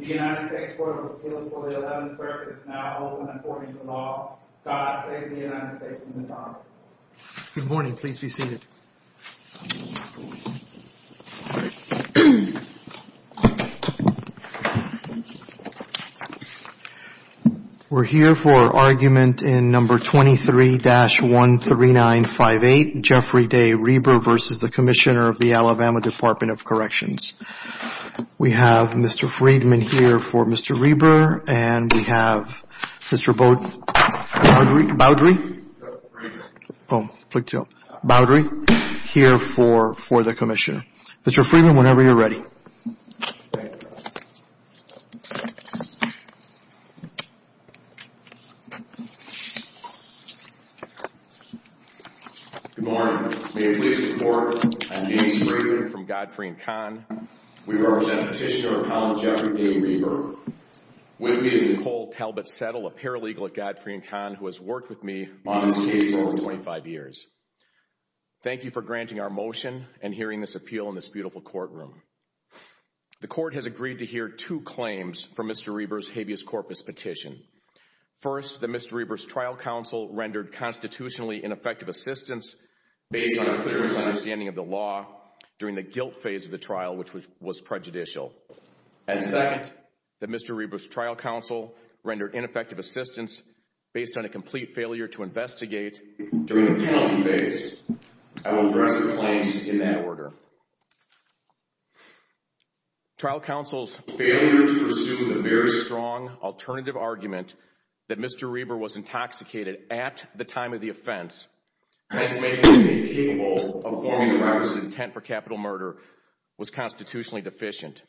The United States Court of Appeals for the 11th Circuit is now open on 14th and Law. God save the United States from the darkness. Good morning. Please be seated. We're here for argument in No. 23-13958, Jeffrey Day Rieber v. Commissioner, Alabama Department of Corrections. We have Mr. Friedman here for Mr. Rieber and we have Mr. Baudry here for the Commissioner. Mr. Friedman, whenever you're ready. Thank you. Good morning. May it please the Court, I'm James Friedman from Godfrey & Kahn. We represent Petitioner of Appellant Jeffrey Day Rieber. With me is Nicole Talbot Settle, a paralegal at Godfrey & Kahn who has worked with me on this case for over 25 years. Thank you for granting our motion and hearing this appeal in this beautiful courtroom. The Court has agreed to hear two claims from Mr. Rieber's habeas corpus petition. First, that Mr. Rieber's trial counsel rendered constitutionally ineffective assistance based on a clear misunderstanding of the law during the guilt phase of the trial, which was prejudicial. And second, that Mr. Rieber's trial counsel rendered ineffective assistance based on a complete failure to investigate during the penalty phase. I will address the claims in that order. Trial counsel's failure to pursue the very strong alternative argument that Mr. Rieber was intoxicated at the time of the offense, hence making him incapable of forming Rieber's intent for capital murder, was constitutionally deficient.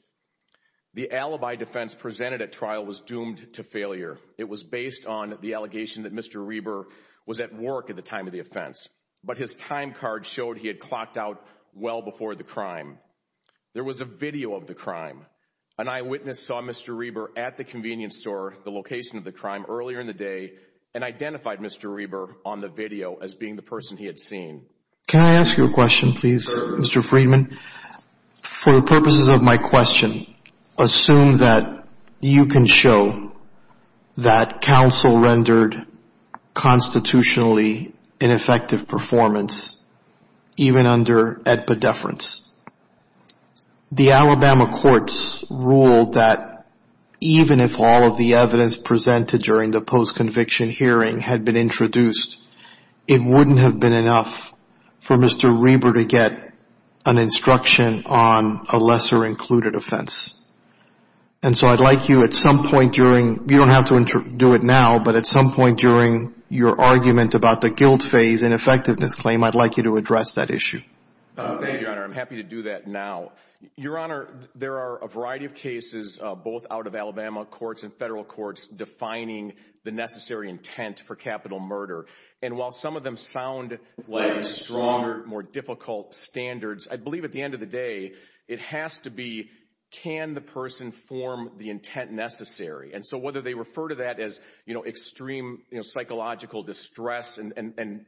The alibi defense presented at trial was doomed to failure. It was based on the allegation that Mr. Rieber was at work at the time of the offense. But his time card showed he had clocked out well before the crime. There was a video of the crime. An eyewitness saw Mr. Rieber at the convenience store, the location of the crime, earlier in the day, and identified Mr. Rieber on the video as being the person he had seen. Can I ask you a question, please, Mr. Friedman? For the purposes of my question, assume that you can show that counsel rendered constitutionally ineffective performance, even under EDPA deference. The Alabama courts ruled that even if all of the evidence presented during the post-conviction hearing had been introduced, it wouldn't have been enough for Mr. Rieber to get an instruction on a lesser included offense. And so I'd like you at some point during, you don't have to do it now, but at some point during your argument about the guilt phase and effectiveness claim, I'd like you to address that issue. Thank you, Your Honor. I'm happy to do that now. Your Honor, there are a variety of cases, both out of Alabama courts and federal courts, defining the necessary intent for capital murder. And while some of them sound like stronger, more difficult standards, I believe at the end of the day, it has to be can the person form the intent necessary. And so whether they refer to that as, you know, extreme psychological distress and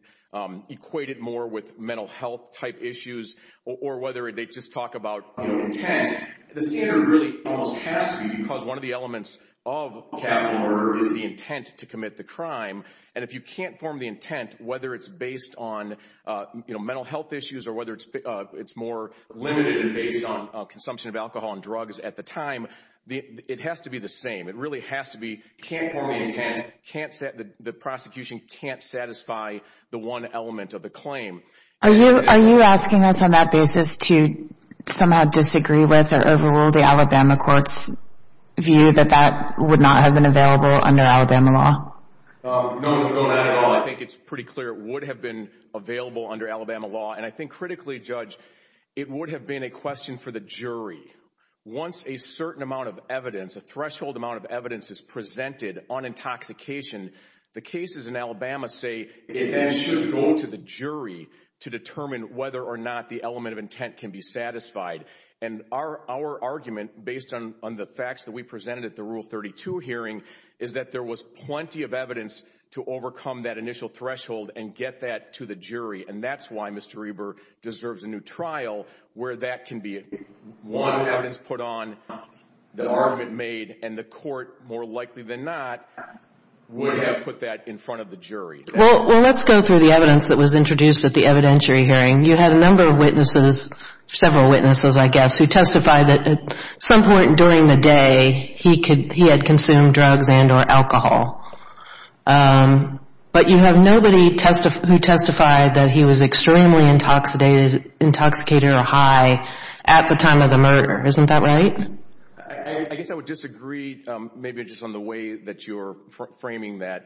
equate it more with mental health-type issues or whether they just talk about intent, the standard really almost has to be because one of the elements of capital murder is the intent to commit the crime. And if you can't form the intent, whether it's based on, you know, mental health issues or whether it's more limited and based on consumption of alcohol and drugs at the time, it has to be the same. It really has to be can't form the intent, the prosecution can't satisfy the one element of the claim. Are you asking us on that basis to somehow disagree with or overrule the Alabama court's view that that would not have been available under Alabama law? No, not at all. I think it's pretty clear it would have been available under Alabama law. And I think critically, Judge, it would have been a question for the jury. Once a certain amount of evidence, a threshold amount of evidence is presented on intoxication, the cases in Alabama say it should go to the jury to determine whether or not the element of intent can be satisfied. And our argument, based on the facts that we presented at the Rule 32 hearing, is that there was plenty of evidence to overcome that initial threshold and get that to the jury. And that's why Mr. Reber deserves a new trial where that can be one evidence put on, the argument made, and the court, more likely than not, would have put that in front of the jury. Well, let's go through the evidence that was introduced at the evidentiary hearing. You had a number of witnesses, several witnesses, I guess, who testified that at some point during the day he had consumed drugs and or alcohol. But you have nobody who testified that he was extremely intoxicated or high at the time of the murder. Isn't that right? I guess I would disagree maybe just on the way that you're framing that.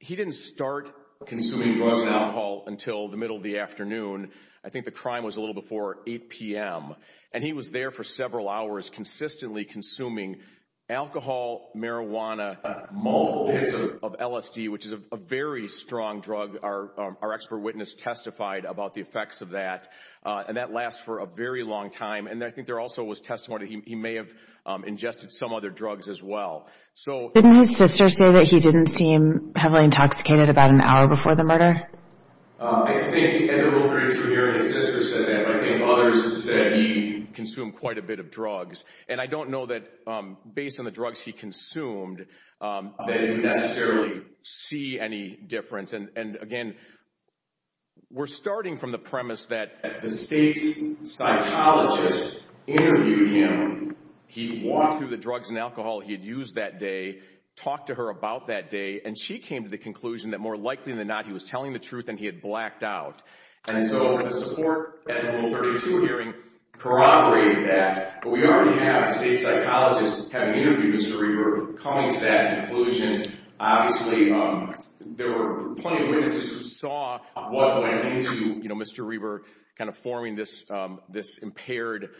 He didn't start consuming drugs and alcohol until the middle of the afternoon. I think the crime was a little before 8 p.m. And he was there for several hours consistently consuming alcohol, marijuana, malt, and LSD, which is a very strong drug. Our expert witness testified about the effects of that. And that lasts for a very long time. And I think there also was testimony that he may have ingested some other drugs as well. Didn't his sister say that he didn't seem heavily intoxicated about an hour before the murder? I think at the real jury hearing his sister said that, but I think others said he consumed quite a bit of drugs. And I don't know that based on the drugs he consumed that you necessarily see any difference. And, again, we're starting from the premise that the state psychologist interviewed him. He walked through the drugs and alcohol he had used that day, talked to her about that day, and she came to the conclusion that more likely than not he was telling the truth and he had blacked out. And so the support at the Rule 32 hearing corroborated that. But we already have a state psychologist having interviewed this jury. We're coming to that conclusion. Obviously, there were plenty of witnesses who saw what went into Mr. Reber kind of forming this impaired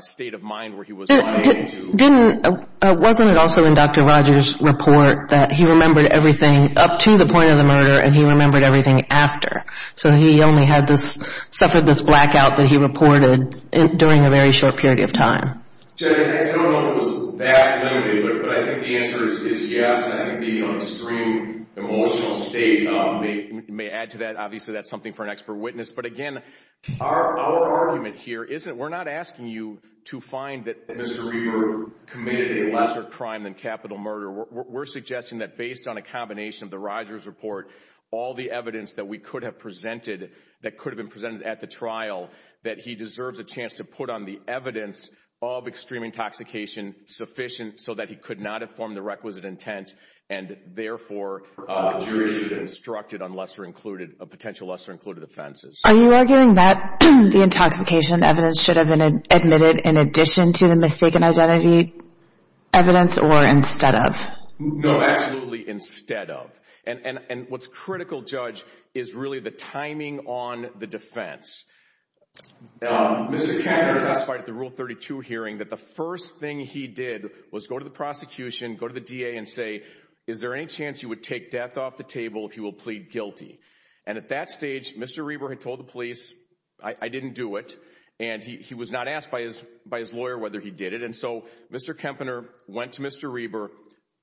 state of mind where he was running into. Wasn't it also in Dr. Rogers' report that he remembered everything up to the point of the murder and he remembered everything after? So he only suffered this blackout that he reported during a very short period of time. Judge, I don't know if it was that limited, but I think the answer is yes. I think the extreme emotional state may add to that. Obviously, that's something for an expert witness. But, again, our argument here isn't we're not asking you to find that Mr. Reber committed a lesser crime than capital murder. We're suggesting that based on a combination of the Rogers report, all the evidence that we could have presented that could have been presented at the trial, that he deserves a chance to put on the evidence of extreme intoxication sufficient so that he could not have formed the requisite intent and, therefore, the jury should be instructed on potential lesser-included offenses. Are you arguing that the intoxication evidence should have been admitted in addition to the mistaken identity evidence or instead of? No, absolutely instead of. And what's critical, Judge, is really the timing on the defense. Mr. Kempner testified at the Rule 32 hearing that the first thing he did was go to the prosecution, go to the DA and say, is there any chance you would take death off the table if you will plead guilty? And at that stage, Mr. Reber had told the police, I didn't do it. And he was not asked by his lawyer whether he did it. And so Mr. Kempner went to Mr. Reber,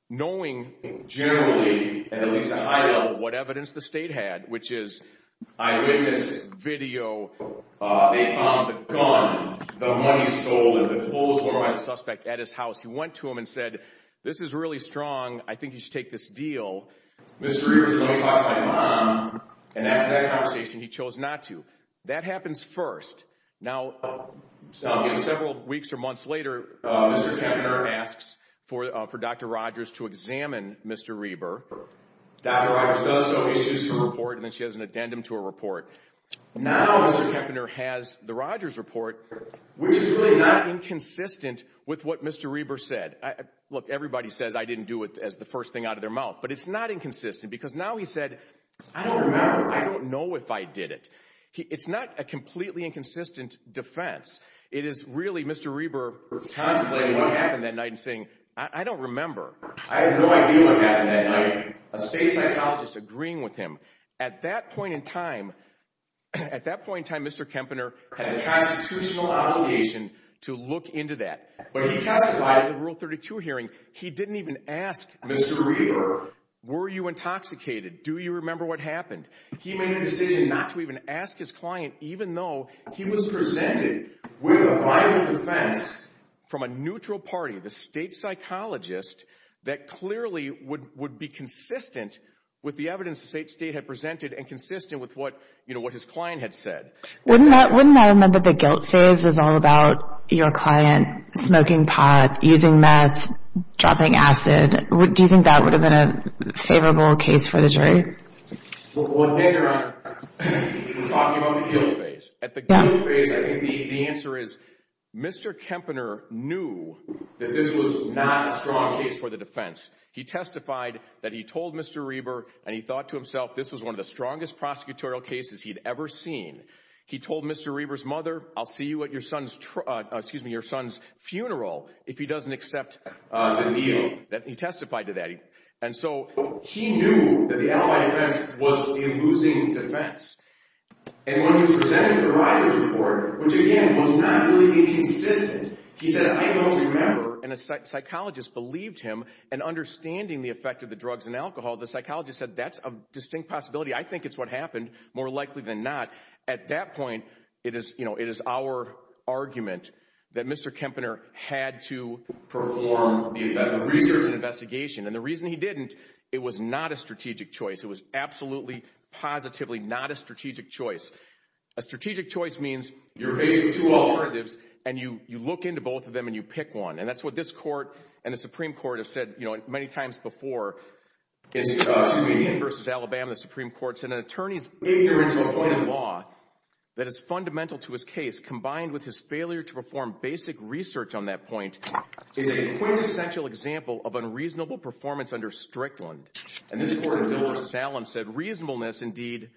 knowing generally at at least a high level what evidence the state had, which is, I read this video. They found the gun, the money stolen, the clothes worn by the suspect at his house. He went to him and said, this is really strong. I think you should take this deal. Mr. Reber said, let me talk to my mom. And after that conversation, he chose not to. That happens first. Now, several weeks or months later, Mr. Kempner asks for Dr. Rogers to examine Mr. Reber. Dr. Rogers does show issues to report, and then she has an addendum to her report. Now Mr. Kempner has the Rogers report, which is really not inconsistent with what Mr. Reber said. Look, everybody says I didn't do it as the first thing out of their mouth. But it's not inconsistent because now he said, I don't remember. I don't know if I did it. It's not a completely inconsistent defense. It is really Mr. Reber contemplating what happened that night and saying, I don't remember. I have no idea what happened that night. A state psychologist agreeing with him. At that point in time, Mr. Kempner had a constitutional obligation to look into that. When he testified at the Rule 32 hearing, he didn't even ask Mr. Reber, were you intoxicated? Do you remember what happened? He made a decision not to even ask his client, even though he was presented with a vital defense from a neutral party, the state psychologist, that clearly would be consistent with the evidence the state had presented and consistent with what his client had said. Wouldn't that have meant that the guilt phase was all about your client smoking pot, using meth, dropping acid? Do you think that would have been a favorable case for the jury? Well, hang around. We're talking about the guilt phase. At the guilt phase, I think the answer is Mr. Kempner knew that this was not a strong case for the defense. He testified that he told Mr. Reber, and he thought to himself, this was one of the strongest prosecutorial cases he'd ever seen. He told Mr. Reber's mother, I'll see you at your son's funeral if he doesn't accept the deal. He testified to that. He knew that the alibi defense was a losing defense. And when he was presented with the writer's report, which again, was not really consistent, he said, I don't remember. And a psychologist believed him, and understanding the effect of the drugs and alcohol, the psychologist said, that's a distinct possibility. I think it's what happened, more likely than not. At that point, it is our argument that Mr. Kempner had to perform the research and investigation. And the reason he didn't, it was not a strategic choice. It was absolutely, positively not a strategic choice. A strategic choice means you're facing two alternatives, and you look into both of them and you pick one. And that's what this court and the Supreme Court have said many times before. It's a comedian versus Alabama. The Supreme Court said an attorney's ignorance of a point in law that is fundamental to his case, combined with his failure to perform basic research on that point, is a quintessential example of unreasonable performance under Strickland. And this court in Willis-Salem said reasonableness, indeed,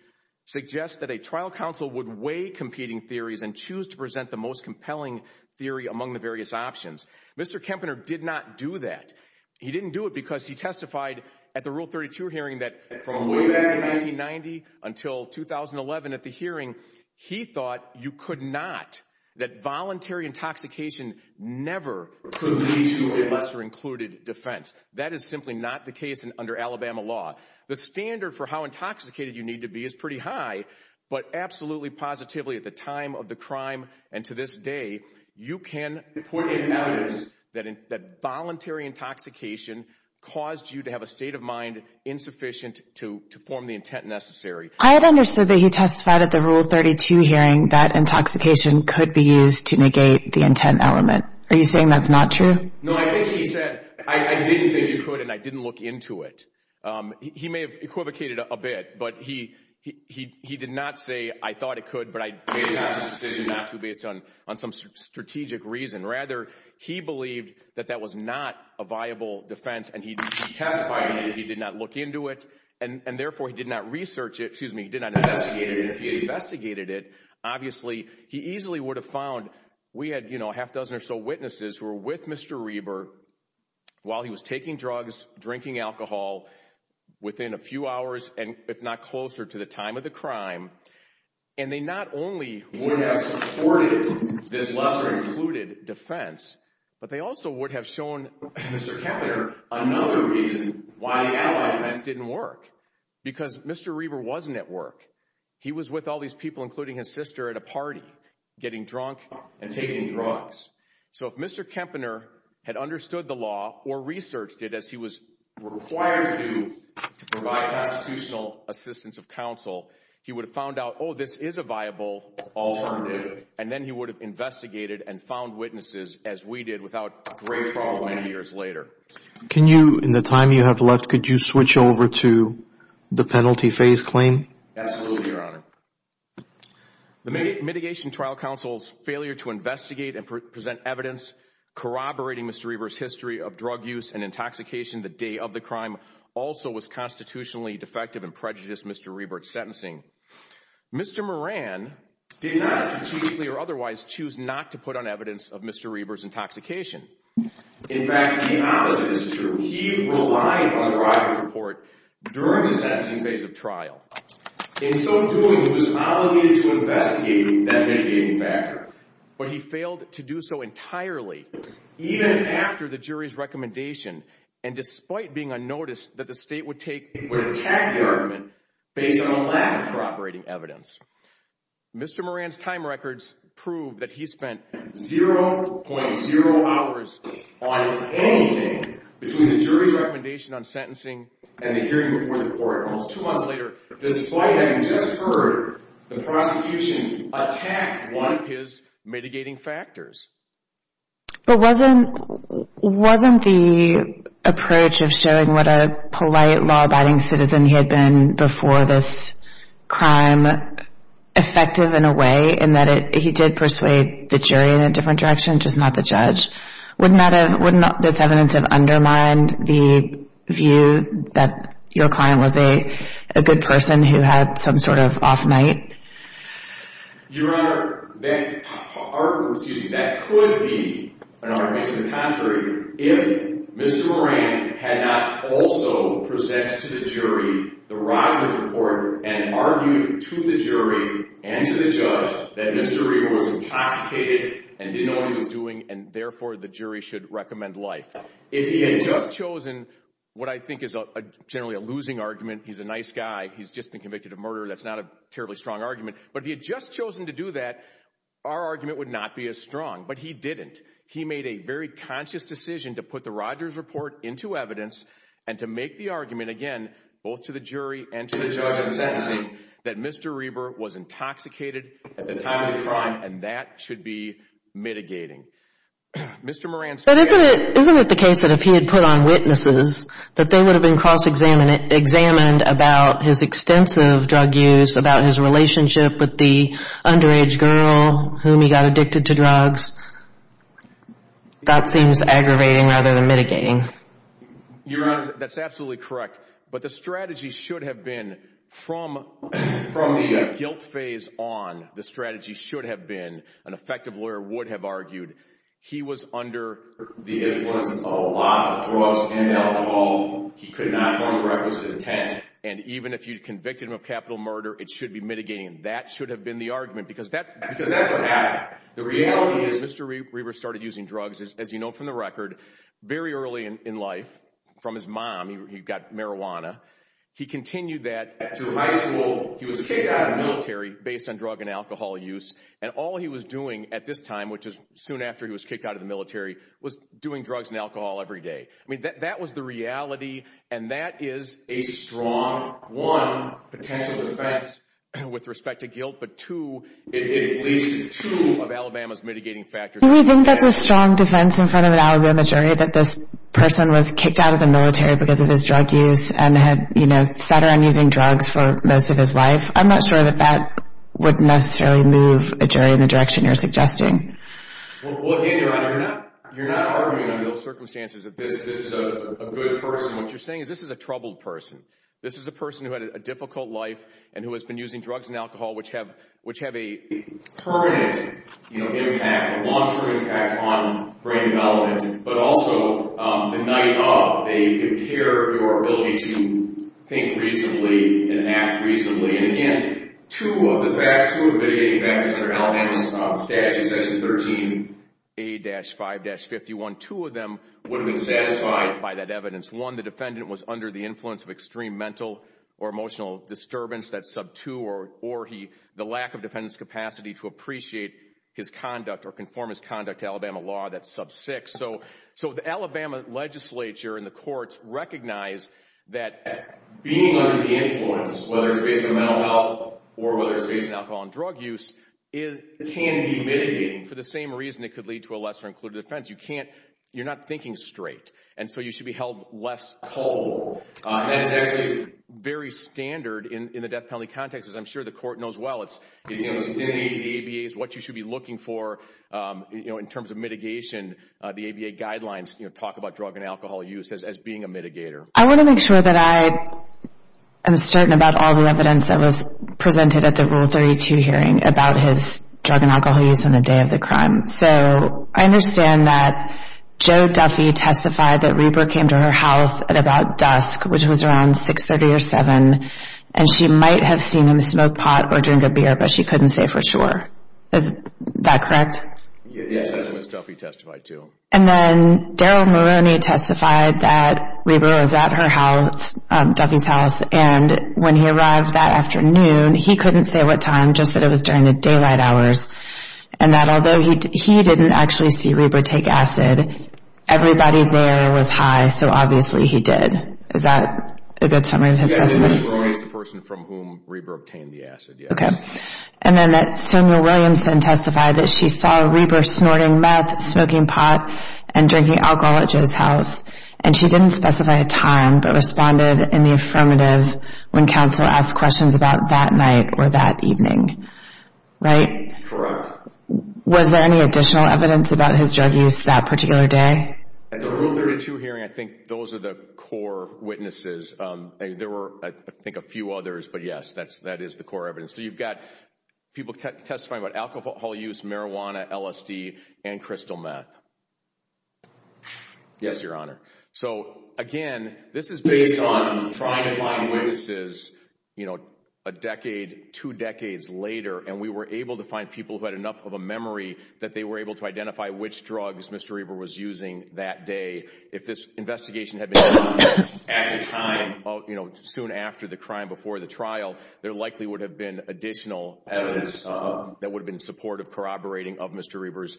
suggests that a trial counsel would weigh competing theories and choose to present the most compelling theory among the various options. Mr. Kempner did not do that. He didn't do it because he testified at the Rule 32 hearing that from way back in 1990 until 2011 at the hearing, he thought you could not, that voluntary intoxication never could lead to a lesser included defense. That is simply not the case under Alabama law. The standard for how intoxicated you need to be is pretty high, but absolutely positively at the time of the crime and to this day, you can point at evidence that voluntary intoxication caused you to have a state of mind insufficient to form the intent necessary. I had understood that he testified at the Rule 32 hearing that intoxication could be used to negate the intent element. Are you saying that's not true? No, I think he said, I didn't think you could, and I didn't look into it. He may have equivocated a bit, but he did not say, I thought it could, but I made a decision not to based on some strategic reason. Rather, he believed that that was not a viable defense, and he testified that he did not look into it, and therefore he did not research it, excuse me, he did not investigate it, and if he had investigated it, obviously he easily would have found we had, you know, a half dozen or so witnesses who were with Mr. Reber while he was taking drugs, drinking alcohol within a few hours and if not closer to the time of the crime, and they not only would have supported this lesser included defense, but they also would have shown Mr. Kempner another reason why the allied defense didn't work, because Mr. Reber wasn't at work. He was with all these people, including his sister, at a party, getting drunk and taking drugs. So if Mr. Kempner had understood the law or researched it as he was required to provide constitutional assistance of counsel, he would have found out, oh, this is a viable alternative, and then he would have investigated and found witnesses as we did without great trouble many years later. Can you, in the time you have left, could you switch over to the penalty phase claim? Absolutely, Your Honor. The mitigation trial counsel's failure to investigate and present evidence corroborating Mr. Reber's history of drug use and intoxication the day of the crime also was constitutionally defective and prejudiced Mr. Reber's sentencing. Mr. Moran did not strategically or otherwise choose not to put on evidence of Mr. Reber's intoxication. In fact, the opposite is true. He relied on Robert's report during the sentencing phase of trial. In so doing, he was obligated to investigate that mitigating factor, but he failed to do so entirely even after the jury's recommendation, and despite being unnoticed, that the state would attack the argument based on a lack of corroborating evidence. Mr. Moran's time records prove that he spent 0.0 hours on anything between the jury's recommendation on sentencing and the hearing before the court almost two months later, despite having just heard the prosecution attack one of his mitigating factors. But wasn't the approach of showing what a polite, law-abiding citizen he had been before this crime effective in a way in that he did persuade the jury in a different direction, just not the judge? Wouldn't this evidence have undermined the view that your client was a good person who had some sort of off night? Your Honor, that could be an argument to the contrary. If Mr. Moran had not also presented to the jury the Rodgers report and argued to the jury and to the judge that Mr. Reber was intoxicated and didn't know what he was doing and therefore the jury should recommend life. If he had just chosen what I think is generally a losing argument, he's a nice guy, he's just been convicted of murder, that's not a terribly strong argument. But if he had just chosen to do that, our argument would not be as strong. But he didn't. He made a very conscious decision to put the Rodgers report into evidence and to make the argument again both to the jury and to the judge in sentencing that Mr. Reber was intoxicated at the time of the crime and that should be mitigating. But isn't it the case that if he had put on witnesses that they would have been cross-examined about his extensive drug use, about his relationship with the underage girl whom he got addicted to drugs? That seems aggravating rather than mitigating. Your Honor, that's absolutely correct. But the strategy should have been from the guilt phase on, the strategy should have been, an effective lawyer would have argued, he was under the influence of a lot of drugs and alcohol. He could not form the requisite intent. And even if you convicted him of capital murder, it should be mitigating. That should have been the argument because that's what happened. The reality is Mr. Reber started using drugs, as you know from the record, very early in life from his mom, he got marijuana. He continued that through high school. He was kicked out of the military based on drug and alcohol use. And all he was doing at this time, which is soon after he was kicked out of the military, was doing drugs and alcohol every day. I mean, that was the reality and that is a strong, one, potential defense with respect to guilt, but two, it leads to two of Alabama's mitigating factors. Do we think that's a strong defense in front of an Alabama jury that this person was kicked out of the military because of his drug use and had sat around using drugs for most of his life? I'm not sure that that would necessarily move a jury in the direction you're suggesting. Well, again, Your Honor, you're not arguing under those circumstances that this is a good person. What you're saying is this is a troubled person. This is a person who had a difficult life and who has been using drugs and alcohol, which have a permanent impact, a long-term impact on brain development, but also the night of, they impair your ability to think reasonably and act reasonably. And again, two of the mitigating factors under Alabama's statute, Section 13A-5-51, two of them would have been satisfied by that evidence. One, the defendant was under the influence of extreme mental or emotional disturbance, that's sub 2, or the lack of defendant's capacity to appreciate his conduct or conform his conduct to Alabama law, that's sub 6. So the Alabama legislature and the courts recognize that being under the influence, whether it's based on mental health or whether it's based on alcohol and drug use, can be mitigating for the same reason it could lead to a lesser-included offense. You're not thinking straight, and so you should be held less culpable. That is actually very standard in the death penalty context, as I'm sure the court knows well. The ABA is what you should be looking for in terms of mitigation. The ABA guidelines talk about drug and alcohol use as being a mitigator. I want to make sure that I am certain about all the evidence that was presented at the Rule 32 hearing about his drug and alcohol use on the day of the crime. So I understand that Joe Duffy testified that Reber came to her house at about dusk, which was around 630 or 7, and she might have seen him smoke pot or drink a beer, but she couldn't say for sure. Is that correct? Yes, that's what Ms. Duffy testified to. And then Daryl Moroney testified that Reber was at her house, Duffy's house, and when he arrived that afternoon, he couldn't say what time, just that it was during the daylight hours, and that although he didn't actually see Reber take acid, everybody there was high, so obviously he did. Is that a good summary of his testimony? Yeah, Daryl Moroney is the person from whom Reber obtained the acid, yes. Okay. And then that Samuel Williamson testified that she saw Reber snorting meth, smoking pot, and drinking alcohol at Joe's house, and she didn't specify a time, but responded in the affirmative when counsel asked questions about that night or that evening. Right? Correct. Was there any additional evidence about his drug use that particular day? At the Rule 32 hearing, I think those are the core witnesses. There were, I think, a few others, but, yes, that is the core evidence. So you've got people testifying about alcohol use, marijuana, LSD, and crystal meth. Yes, Your Honor. So, again, this is based on trying to find witnesses, you know, a decade, two decades later, and we were able to find people who had enough of a memory that they were able to identify which drugs Mr. Reber was using that day. If this investigation had been done at a time, you know, soon after the crime before the trial, there likely would have been additional evidence that would have been supportive corroborating of Mr. Reber's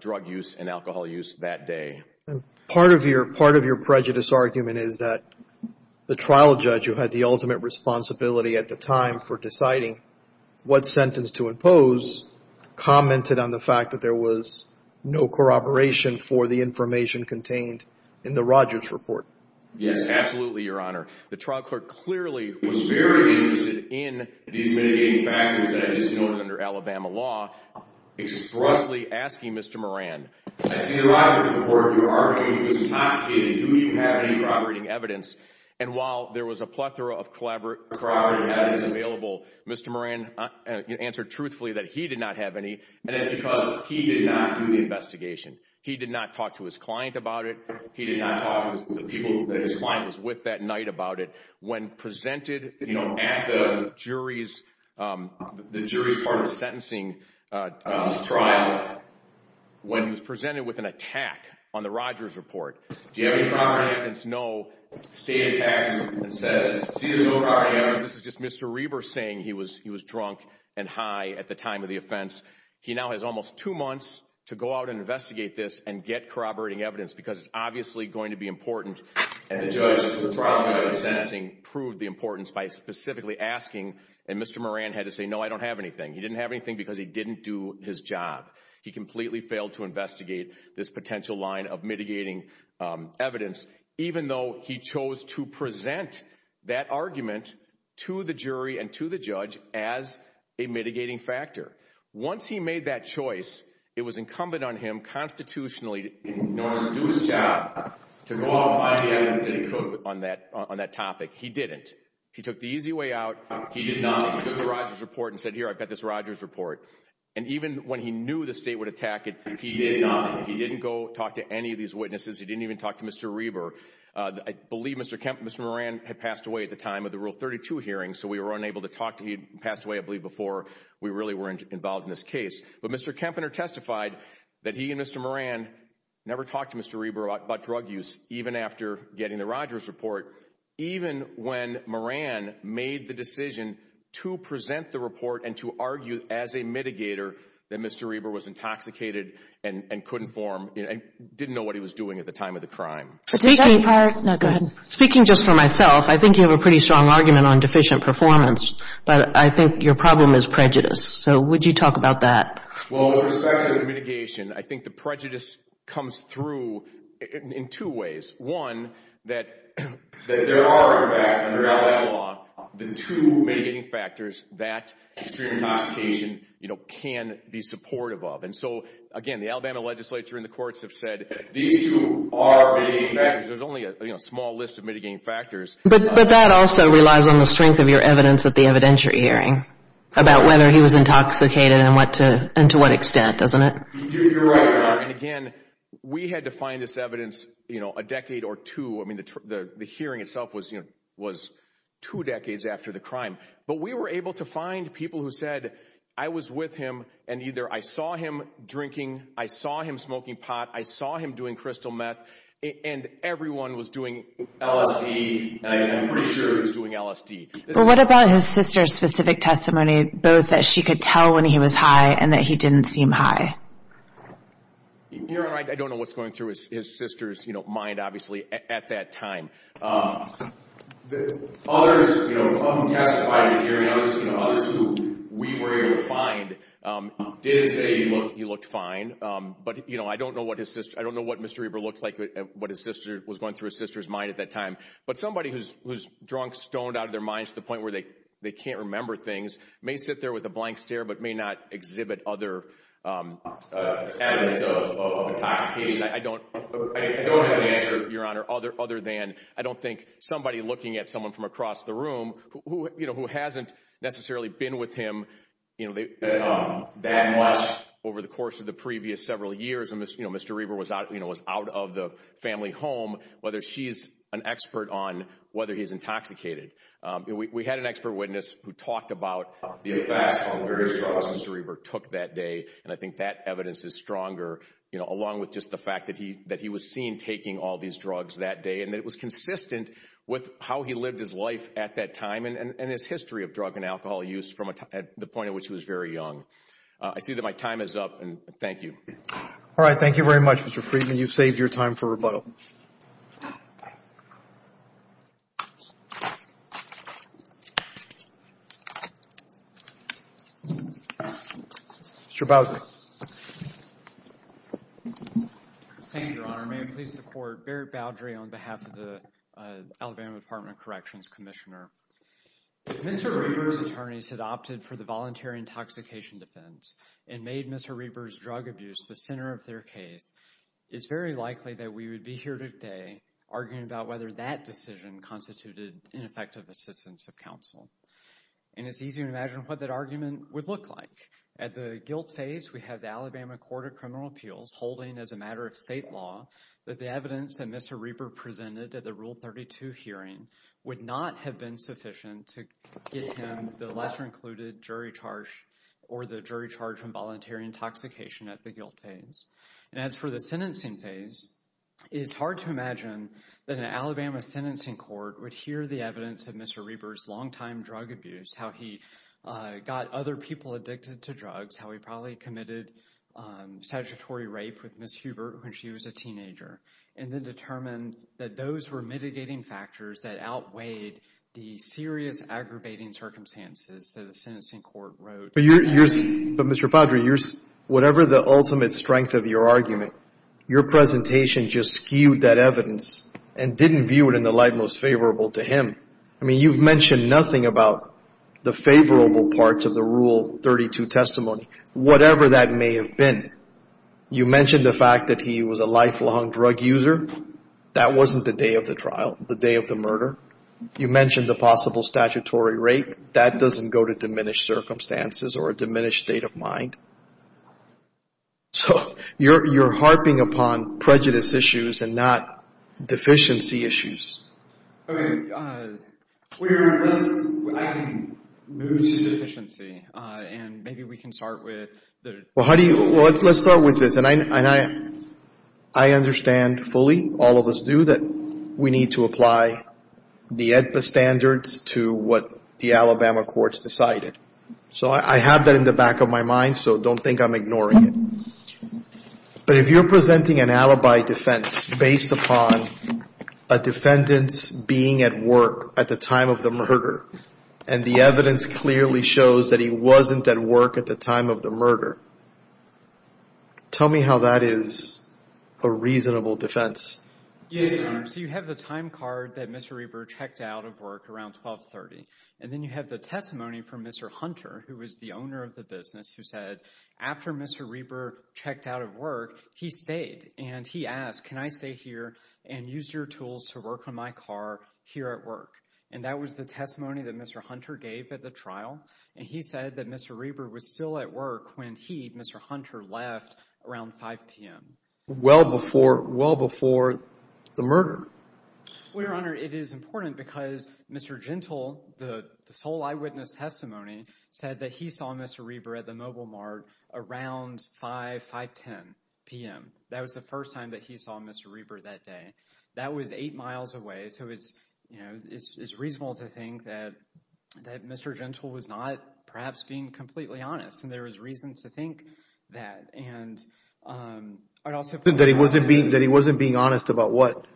drug use and alcohol use that day. Part of your prejudice argument is that the trial judge who had the ultimate responsibility at the time for deciding what sentence to impose commented on the fact that there was no corroboration for the information contained in the Rodgers report. Yes, absolutely, Your Honor. The trial court clearly was very interested in these mitigating factors that I just noted under Alabama law, expressly asking Mr. Moran, I see a lot of this in the court of your argument. He was intoxicated. Do you have any corroborating evidence? And while there was a plethora of corroborating evidence available, Mr. Moran answered truthfully that he did not have any, and that's because he did not do the investigation. He did not talk to his client about it. He did not talk to the people that his client was with that night about it. When presented, you know, at the jury's part of the sentencing trial, when he was presented with an attack on the Rodgers report, do you have any corroborating evidence? No. State attacks you and says, see, there's no corroborating evidence. This is just Mr. Reber saying he was drunk and high at the time of the offense. He now has almost two months to go out and investigate this and get corroborating evidence because it's obviously going to be important. And the judge, the trial judge at the sentencing proved the importance by specifically asking, and Mr. Moran had to say, no, I don't have anything. He didn't have anything because he didn't do his job. He completely failed to investigate this potential line of mitigating evidence, even though he chose to present that argument to the jury and to the judge as a mitigating factor. Once he made that choice, it was incumbent on him constitutionally in order to do his job to go out and find the evidence that he could on that topic. He didn't. He took the easy way out. He did not look at the Rodgers report and said, here, I've got this Rodgers report. And even when he knew the state would attack it, he didn't go talk to any of these witnesses. He didn't even talk to Mr. Reber. I believe Mr. Moran had passed away at the time of the Rule 32 hearing, so we were unable to talk to him. He passed away, I believe, before we really were involved in this case. But Mr. Kempner testified that he and Mr. Moran never talked to Mr. Reber about drug use, even after getting the Rodgers report, even when Moran made the decision to present the report and to argue as a mitigator that Mr. Reber was intoxicated and couldn't form and didn't know what he was doing at the time of the crime. Speaking just for myself, I think you have a pretty strong argument on deficient performance, but I think your problem is prejudice. So would you talk about that? Well, with respect to the mitigation, I think the prejudice comes through in two ways. One, that there are, in fact, under Alabama law, the two mitigating factors that extreme intoxication can be supportive of. And so, again, the Alabama legislature and the courts have said these two are mitigating factors. There's only a small list of mitigating factors. But that also relies on the strength of your evidence at the evidentiary hearing about whether he was intoxicated and to what extent, doesn't it? You're right, Your Honor. And, again, we had to find this evidence a decade or two. I mean, the hearing itself was two decades after the crime. But we were able to find people who said, I was with him and either I saw him drinking, I saw him smoking pot, I saw him doing crystal meth, and everyone was doing LSD. And I'm pretty sure he was doing LSD. Well, what about his sister's specific testimony, both that she could tell when he was high and that he didn't seem high? Your Honor, I don't know what's going through his sister's mind, obviously, at that time. Others who testified at the hearing, others who we were able to find, did say he looked fine. But, you know, I don't know what Mr. Eber looked like, what his sister was going through his sister's mind at that time. But somebody who's drunk, stoned out of their minds to the point where they can't remember things, may sit there with a blank stare, but may not exhibit other evidence of intoxication. I don't have an answer, Your Honor, other than I don't think somebody looking at someone from across the room who hasn't necessarily been with him that much over the course of the previous several years, you know, Mr. Eber was out of the family home, whether she's an expert on whether he's intoxicated. We had an expert witness who talked about the effects of various drugs Mr. Eber took that day. And I think that evidence is stronger, you know, along with just the fact that he was seen taking all these drugs that day. And it was consistent with how he lived his life at that time and his history of drug and alcohol use from the point at which he was very young. So I see that my time is up, and thank you. All right, thank you very much, Mr. Friedman. You've saved your time for rebuttal. Mr. Boudreaux. Thank you, Your Honor. May it please the Court, Barrett Boudreaux on behalf of the Alabama Department of Corrections Commissioner. If Mr. Eber's attorneys had opted for the voluntary intoxication defense and made Mr. Eber's drug abuse the center of their case, it's very likely that we would be here today arguing about whether that decision constituted ineffective assistance of counsel. And it's easy to imagine what that argument would look like. At the guilt phase, we have the Alabama Court of Criminal Appeals holding as a matter of state law that the evidence that Mr. Eber presented at the Rule 32 hearing would not have been sufficient to get him the lesser included jury charge or the jury charge from voluntary intoxication at the guilt phase. And as for the sentencing phase, it's hard to imagine that an Alabama sentencing court would hear the evidence of Mr. Eber's longtime drug abuse, how he got other people addicted to drugs, how he probably committed statutory rape with Ms. Hubert when she was a teenager, and then determine that those were mitigating factors that outweighed the serious aggravating circumstances that a sentencing court wrote. But, Mr. Padre, whatever the ultimate strength of your argument, your presentation just skewed that evidence and didn't view it in the light most favorable to him. I mean, you've mentioned nothing about the favorable parts of the Rule 32 testimony, whatever that may have been. You mentioned the fact that he was a lifelong drug user. That wasn't the day of the trial, the day of the murder. You mentioned the possible statutory rape. That doesn't go to diminished circumstances or a diminished state of mind. So you're harping upon prejudice issues and not deficiency issues. Okay. I can move to deficiency, and maybe we can start with the… Well, let's start with this, and I understand fully, all of us do, that we need to apply the AEDPA standards to what the Alabama courts decided. So I have that in the back of my mind, so don't think I'm ignoring it. But if you're presenting an alibi defense based upon a defendant's being at work at the time of the murder, and the evidence clearly shows that he wasn't at work at the time of the murder, tell me how that is a reasonable defense. Yes, Your Honor. So you have the time card that Mr. Reber checked out of work around 1230, and then you have the testimony from Mr. Hunter, who was the owner of the business, who said after Mr. Reber checked out of work, he stayed, and he asked, can I stay here and use your tools to work on my car here at work? And that was the testimony that Mr. Hunter gave at the trial, and he said that Mr. Reber was still at work when he, Mr. Hunter, left around 5 p.m. Well before the murder. Well, Your Honor, it is important because Mr. Gentle, this whole eyewitness testimony, said that he saw Mr. Reber at the Mobile Mart around 5, 510 p.m. That was the first time that he saw Mr. Reber that day. That was eight miles away, so it's, you know, it's reasonable to think that Mr. Gentle was not perhaps being completely honest, and there is reason to think that. That he wasn't being honest about what?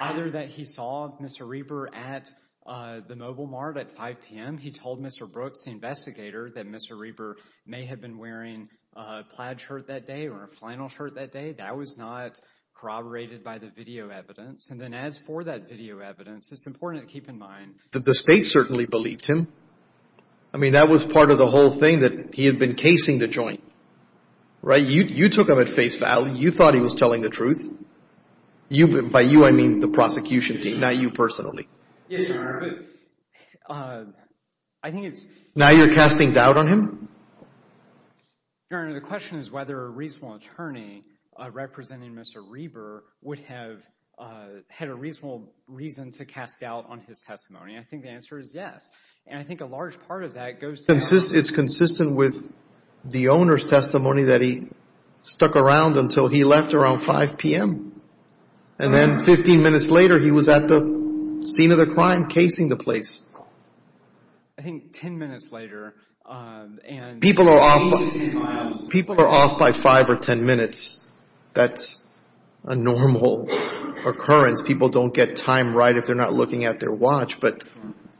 Either that he saw Mr. Reber at the Mobile Mart at 5 p.m., he told Mr. Brooks, the investigator, that Mr. Reber may have been wearing a plaid shirt that day or a flannel shirt that day. That was not corroborated by the video evidence. And then as for that video evidence, it's important to keep in mind. The state certainly believed him. I mean, that was part of the whole thing that he had been casing the joint, right? You took him at face value. You thought he was telling the truth. By you, I mean the prosecution team, not you personally. Yes, Your Honor, but I think it's. Now you're casting doubt on him? Your Honor, the question is whether a reasonable attorney representing Mr. Reber would have had a reasonable reason to cast doubt on his testimony. I think the answer is yes, and I think a large part of that goes to... It's consistent with the owner's testimony that he stuck around until he left around 5 p.m., and then 15 minutes later he was at the scene of the crime casing the place. I think 10 minutes later... People are off by 5 or 10 minutes. That's a normal occurrence. People don't get time right if they're not looking at their watch.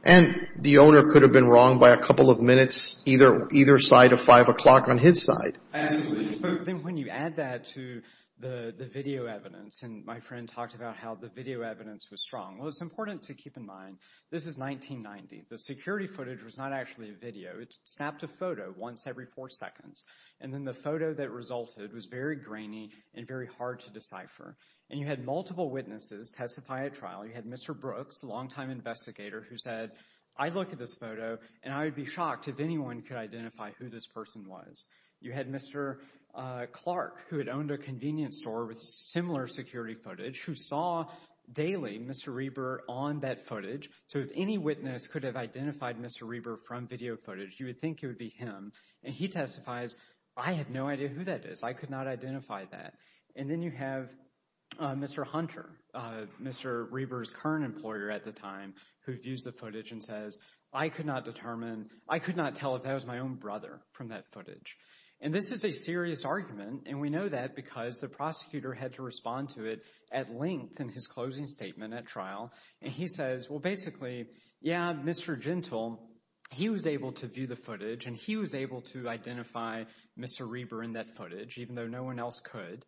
And the owner could have been wrong by a couple of minutes, either side of 5 o'clock on his side. But when you add that to the video evidence, and my friend talked about how the video evidence was strong. Well, it's important to keep in mind this is 1990. The security footage was not actually a video. It snapped a photo once every four seconds, and then the photo that resulted was very grainy and very hard to decipher. And you had multiple witnesses testify at trial. You had Mr. Brooks, a longtime investigator, who said, I look at this photo, and I would be shocked if anyone could identify who this person was. You had Mr. Clark, who had owned a convenience store with similar security footage, who saw daily Mr. Reber on that footage. So if any witness could have identified Mr. Reber from video footage, you would think it would be him. And he testifies, I have no idea who that is. I could not identify that. And then you have Mr. Hunter, Mr. Reber's current employer at the time, who views the footage and says, I could not determine... I could not tell if that was my own brother from that footage. And this is a serious argument, and we know that because the prosecutor had to respond to it at length in his closing statement at trial. And he says, well, basically, yeah, Mr. Gentile, he was able to view the footage, and he was able to identify Mr. Reber in that footage, even though no one else could.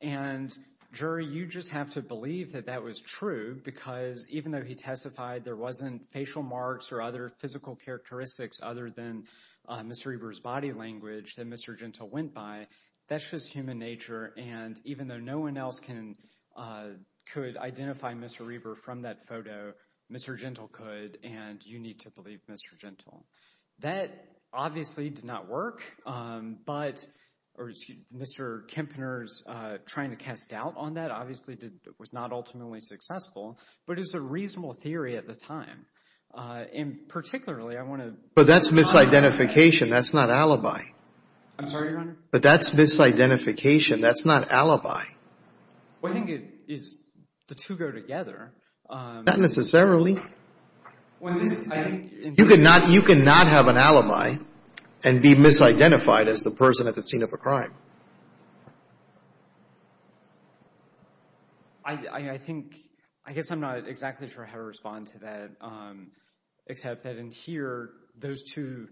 And, jury, you just have to believe that that was true because even though he testified there wasn't facial marks or other physical characteristics other than Mr. Reber's body language that Mr. Gentile went by, that's just human nature. And even though no one else could identify Mr. Reber from that photo, Mr. Gentile could, and you need to believe Mr. Gentile. That obviously did not work. But Mr. Kempner's trying to cast doubt on that obviously was not ultimately successful, but it was a reasonable theory at the time. And particularly, I want to... But that's misidentification. That's not alibi. I'm sorry, Your Honor? But that's misidentification. That's not alibi. Well, I think it is the two go together. Not necessarily. When this... You cannot have an alibi and be misidentified as the person at the scene of a crime. I think... I guess I'm not exactly sure how to respond to that, except that in here, those two...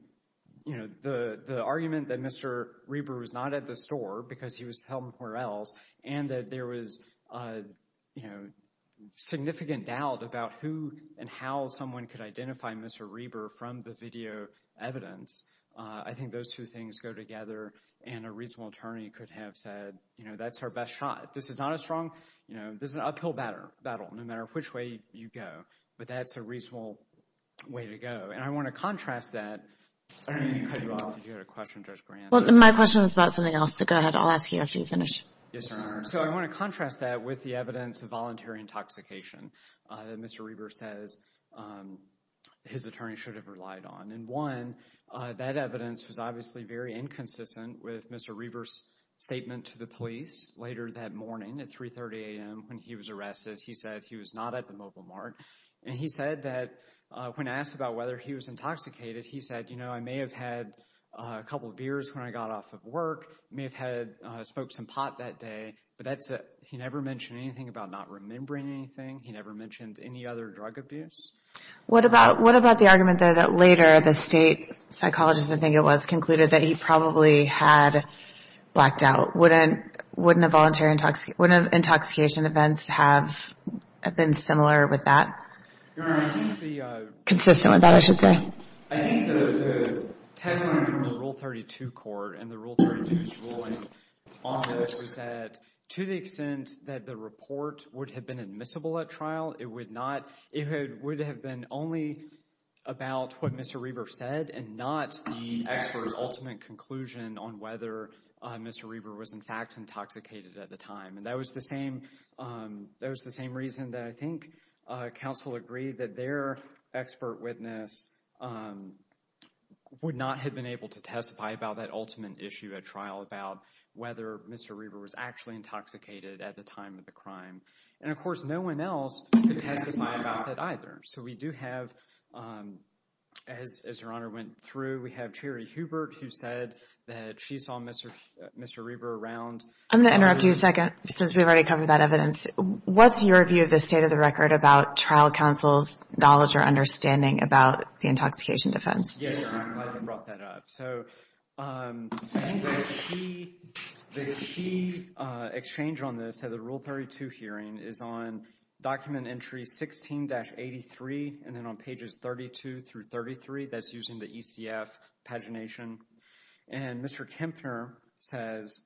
The argument that Mr. Reber was not at the store because he was somewhere else and that there was significant doubt about who and how someone could identify Mr. Reber from the video evidence, I think those two things go together, and a reasonable attorney could have said, you know, that's our best shot. This is not a strong... This is an uphill battle, no matter which way you go. But that's a reasonable way to go. And I want to contrast that... Did you have a question, Judge Grant? My question was about something else. Go ahead. I'll ask you after you finish. Yes, Your Honor. So I want to contrast that with the evidence of voluntary intoxication that Mr. Reber says his attorney should have relied on. And one, that evidence was obviously very inconsistent with Mr. Reber's statement to the police later that morning at 3.30 a.m. when he was arrested. He said he was not at the Mobile Mart. And he said that when asked about whether he was intoxicated, he said, you know, I may have had a couple of beers when I got off of work. I may have smoked some pot that day. But that's it. He never mentioned anything about not remembering anything. He never mentioned any other drug abuse. What about the argument there that later the state psychologist, I think it was, concluded that he probably had blacked out? Wouldn't intoxication events have been similar with that? Your Honor, I think the – Consistent with that, I should say. I think the tagline from the Rule 32 court and the Rule 32's ruling on this was that to the extent that the report would have been admissible at trial, it would have been only about what Mr. Reber said and not the expert's ultimate conclusion on whether Mr. Reber was, in fact, intoxicated at the time. And that was the same reason that I think counsel agreed that their expert witness would not have been able to testify about that ultimate issue at trial about whether Mr. Reber was actually intoxicated at the time of the crime. And, of course, no one else could testify about that either. So we do have, as Your Honor went through, we have Cherry Hubert who said that she saw Mr. Reber around. I'm going to interrupt you a second since we've already covered that evidence. What's your view of the state of the record about trial counsel's knowledge or understanding about the intoxication defense? Yes, Your Honor. I'm glad you brought that up. So the key exchange on this at the Rule 32 hearing is on Document Entry 16-83 and then on pages 32 through 33. That's using the ECF pagination. And Mr. Kempner says,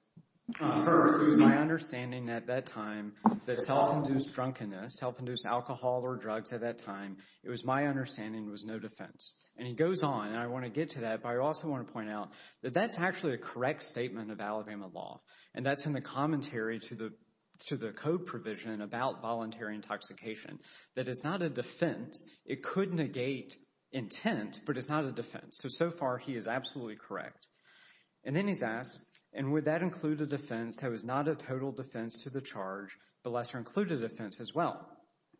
First, it was my understanding at that time that self-induced drunkenness, self-induced alcohol or drugs at that time, it was my understanding was no defense. And he goes on, and I want to get to that, but I also want to point out that that's actually a correct statement of Alabama law. And that's in the commentary to the code provision about voluntary intoxication, that it's not a defense. It could negate intent, but it's not a defense. So, so far, he is absolutely correct. And then he's asked, and would that include a defense that was not a total defense to the charge, but lesser included defense as well?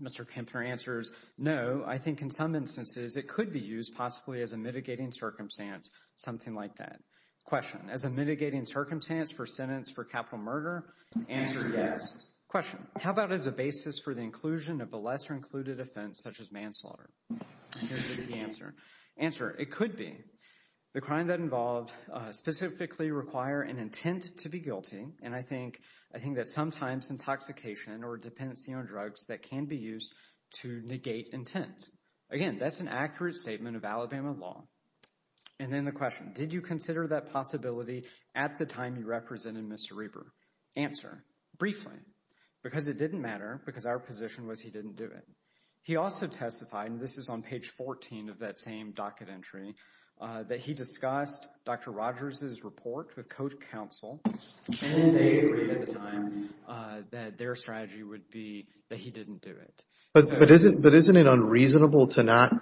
Mr. Kempner answers, no, I think in some instances it could be used possibly as a mitigating circumstance, something like that. Question, as a mitigating circumstance for sentence for capital murder? Answer, yes. Question, how about as a basis for the inclusion of a lesser included offense, such as manslaughter? Here's the answer. Answer, it could be. The crime that involved specifically require an intent to be guilty, and I think that sometimes intoxication or dependency on drugs that can be used to negate intent. Again, that's an accurate statement of Alabama law. And then the question, did you consider that possibility at the time you represented Mr. Reber? Answer, briefly, because it didn't matter, because our position was he didn't do it. He also testified, and this is on page 14 of that same docket entry, that he discussed Dr. Rogers' report with code counsel, and they agreed at the time that their strategy would be that he didn't do it. But isn't it unreasonable to not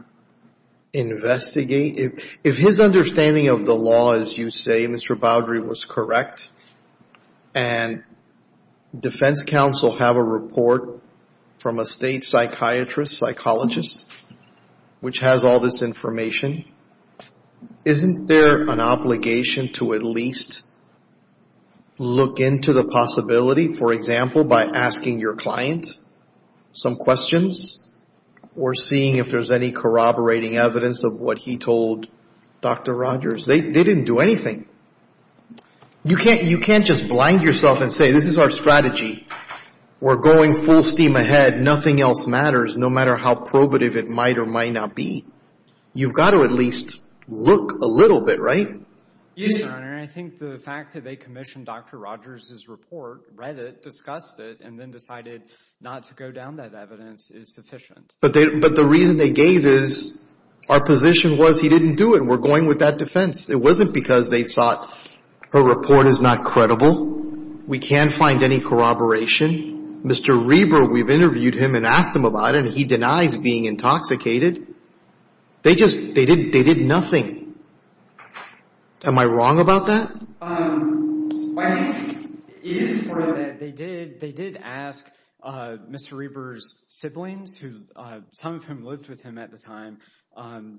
investigate? If his understanding of the law, as you say, Mr. Bowdrey, was correct, and defense counsel have a report from a state psychiatrist, psychologist, which has all this information, isn't there an obligation to at least look into the possibility, for example, by asking your client some questions or seeing if there's any corroborating evidence of what he told Dr. Rogers? They didn't do anything. You can't just blind yourself and say this is our strategy. We're going full steam ahead. Nothing else matters, no matter how probative it might or might not be. You've got to at least look a little bit, right? Yes, Your Honor, and I think the fact that they commissioned Dr. Rogers' report, read it, discussed it, and then decided not to go down that evidence is sufficient. But the reason they gave is our position was he didn't do it. We're going with that defense. It wasn't because they thought her report is not credible. We can't find any corroboration. Mr. Reber, we've interviewed him and asked him about it, and he denies being intoxicated. They just did nothing. Am I wrong about that? It is true that they did ask Mr. Reber's siblings, some of whom lived with him at the time.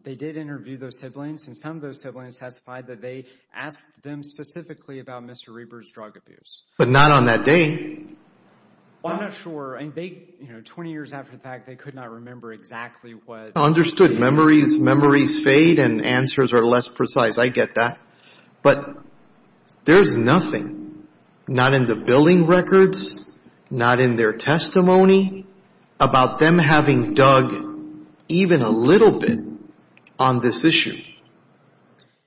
They did interview those siblings, and some of those siblings testified that they asked them specifically about Mr. Reber's drug abuse. But not on that day. I'm not sure. Twenty years after the fact, they could not remember exactly what. I understood. Memories fade, and answers are less precise. I get that. But there's nothing, not in the billing records, not in their testimony, about them having dug even a little bit on this issue.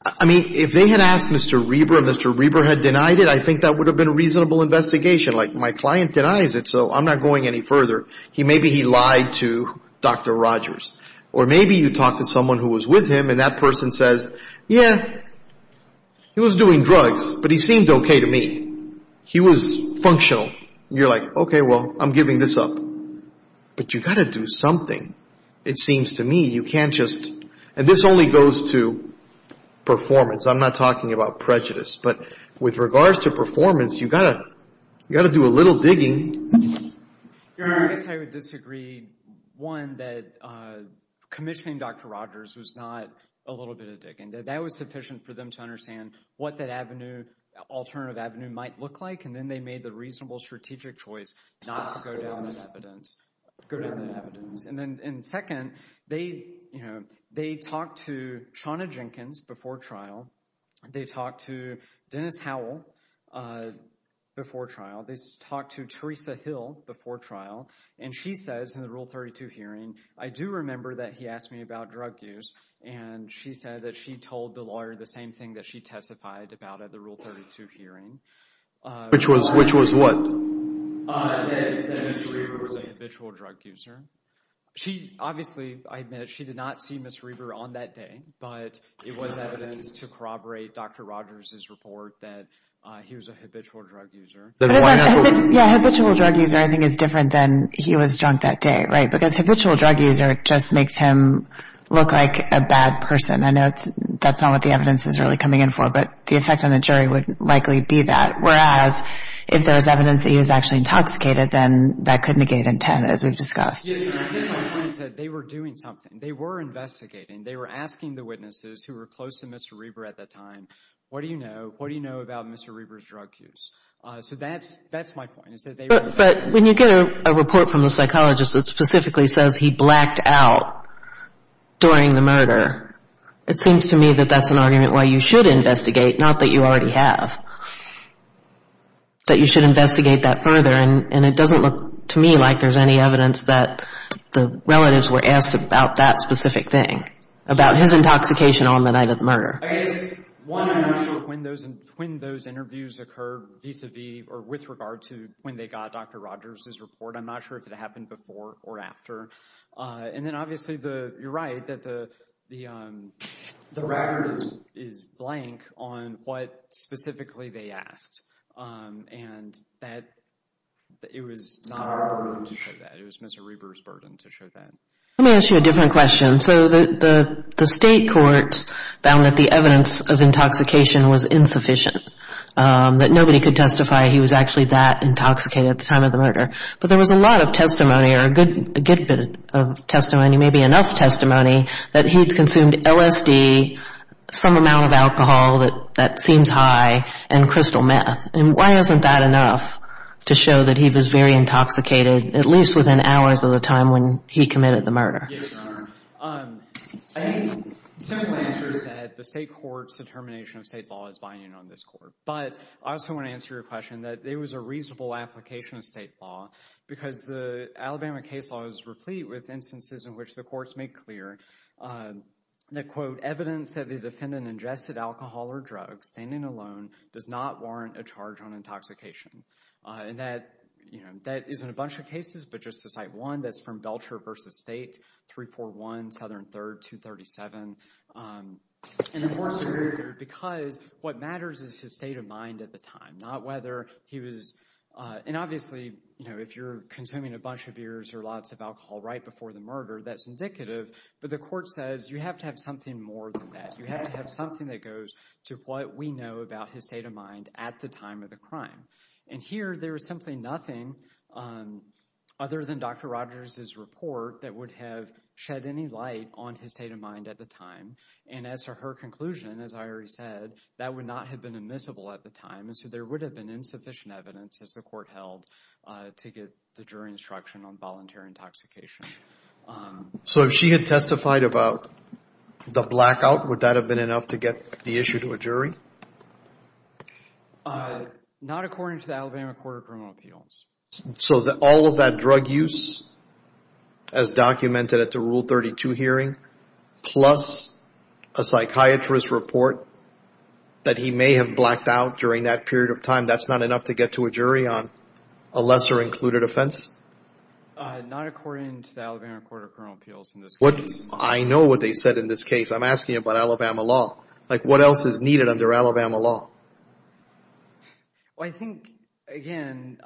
I mean, if they had asked Mr. Reber and Mr. Reber had denied it, I think that would have been a reasonable investigation. Like, my client denies it, so I'm not going any further. Maybe he lied to Dr. Rogers. Or maybe you talk to someone who was with him, and that person says, yeah, he was doing drugs, but he seemed okay to me. He was functional. You're like, okay, well, I'm giving this up. But you've got to do something, it seems to me. You can't just, and this only goes to performance. I'm not talking about prejudice. But with regards to performance, you've got to do a little digging. I guess I would disagree, one, that commissioning Dr. Rogers was not a little bit of digging. That was sufficient for them to understand what that avenue, alternative avenue, might look like, and then they made the reasonable strategic choice not to go down that evidence. And second, they talked to Shawna Jenkins before trial. They talked to Dennis Howell before trial. They talked to Teresa Hill before trial, and she says in the Rule 32 hearing, I do remember that he asked me about drug use, and she said that she told the lawyer the same thing that she testified about at the Rule 32 hearing. Which was what? That Mr. Reber was a habitual drug user. Obviously, I admit it, she did not see Mr. Reber on that day, but it was evidence to corroborate Dr. Rogers' report that he was a habitual drug user. Yeah, habitual drug user I think is different than he was drunk that day, right? Because habitual drug user just makes him look like a bad person. I know that's not what the evidence is really coming in for, but the effect on the jury would likely be that. Whereas, if there was evidence that he was actually intoxicated, then that could negate intent, as we've discussed. They were doing something. They were investigating. They were asking the witnesses who were close to Mr. Reber at that time, what do you know? What do you know about Mr. Reber's drug use? So that's my point. But when you get a report from a psychologist that specifically says he blacked out during the murder, it seems to me that that's an argument why you should investigate, not that you already have. That you should investigate that further, and it doesn't look to me like there's any evidence that the relatives were asked about that specific thing, about his intoxication on the night of the murder. I guess, one, I'm not sure when those interviews occurred vis-a-vis or with regard to when they got Dr. Rogers' report. I'm not sure if it happened before or after. And then, obviously, you're right that the record is blank on what specifically they asked, and it was not our burden to show that. It was Mr. Reber's burden to show that. Let me ask you a different question. So the state courts found that the evidence of intoxication was insufficient, that nobody could testify he was actually that intoxicated at the time of the murder. But there was a lot of testimony, or a good bit of testimony, maybe enough testimony, that he'd consumed LSD, some amount of alcohol that seems high, and crystal meth. And why isn't that enough to show that he was very intoxicated, at least within hours of the time when he committed the murder? Yes, Your Honor. I think the simple answer is that the state court's determination of state law is binding on this court. But I also want to answer your question that there was a reasonable application of state law because the Alabama case law is replete with instances in which the courts make clear that, quote, evidence that the defendant ingested alcohol or drugs standing alone does not warrant a charge on intoxication. And that is in a bunch of cases, but just to cite one, that's from Vulture v. State, 341 Southern 3rd, 237. And of course, because what matters is his state of mind at the time, not whether he was, and obviously, you know, if you're consuming a bunch of beers or lots of alcohol right before the murder, that's indicative. But the court says you have to have something more than that. You have to have something that goes to what we know about his state of mind at the time of the crime. And here, there is simply nothing other than Dr. Rogers' report that would have shed any light on his state of mind at the time. And as for her conclusion, as I already said, that would not have been admissible at the time. And so there would have been insufficient evidence, as the court held, to get the jury instruction on volunteer intoxication. So if she had testified about the blackout, would that have been enough to get the issue to a jury? Not according to the Alabama Court of Criminal Appeals. So all of that drug use, as documented at the Rule 32 hearing, plus a psychiatrist's report that he may have blacked out during that period of time, that's not enough to get to a jury on a lesser-included offense? Not according to the Alabama Court of Criminal Appeals in this case. I know what they said in this case. I'm asking about Alabama law. Like, what else is needed under Alabama law? Well, I think, again,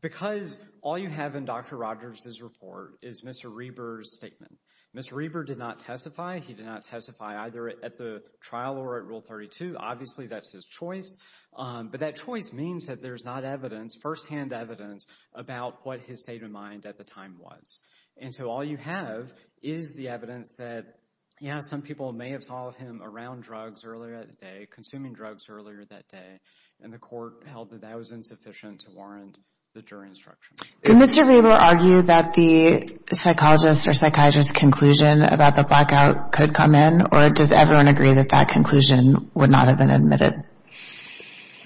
because all you have in Dr. Rogers' report is Mr. Reber's statement. Mr. Reber did not testify. He did not testify either at the trial or at Rule 32. Obviously, that's his choice. But that choice means that there's not evidence, firsthand evidence, about what his state of mind at the time was. And so all you have is the evidence that, yeah, some people may have saw him around drugs earlier that day, consuming drugs earlier that day, and the Court held that that was insufficient to warrant the jury instruction. Did Mr. Reber argue that the psychologist or psychiatrist's conclusion about the blackout could come in, or does everyone agree that that conclusion would not have been admitted?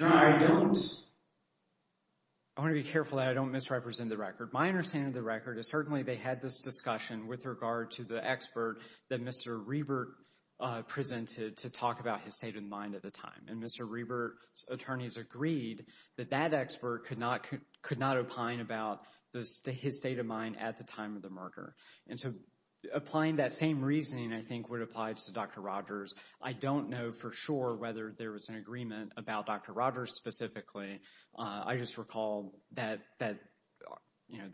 No, I don't. I want to be careful that I don't misrepresent the record. My understanding of the record is certainly they had this discussion with regard to the expert that Mr. Reber presented to talk about his state of mind at the time. And Mr. Reber's attorneys agreed that that expert could not opine about his state of mind at the time of the murder. And so applying that same reasoning, I think, would apply to Dr. Rogers. I don't know for sure whether there was an agreement about Dr. Rogers specifically. I just recall that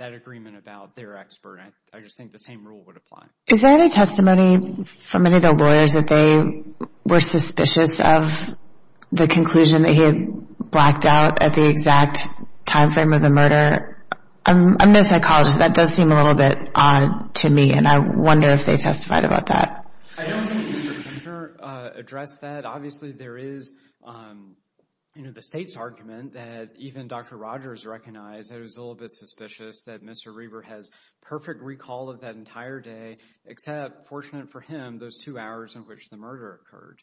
agreement about their expert. I just think the same rule would apply. Is there any testimony from any of the lawyers that they were suspicious of the conclusion that he had blacked out at the exact time frame of the murder? I'm no psychologist. That does seem a little bit odd to me, and I wonder if they testified about that. I don't think Mr. Reber addressed that. Obviously, there is the state's argument that even Dr. Rogers recognized that it was a little bit suspicious that Mr. Reber has perfect recall of that entire day except, fortunate for him, those two hours in which the murder occurred.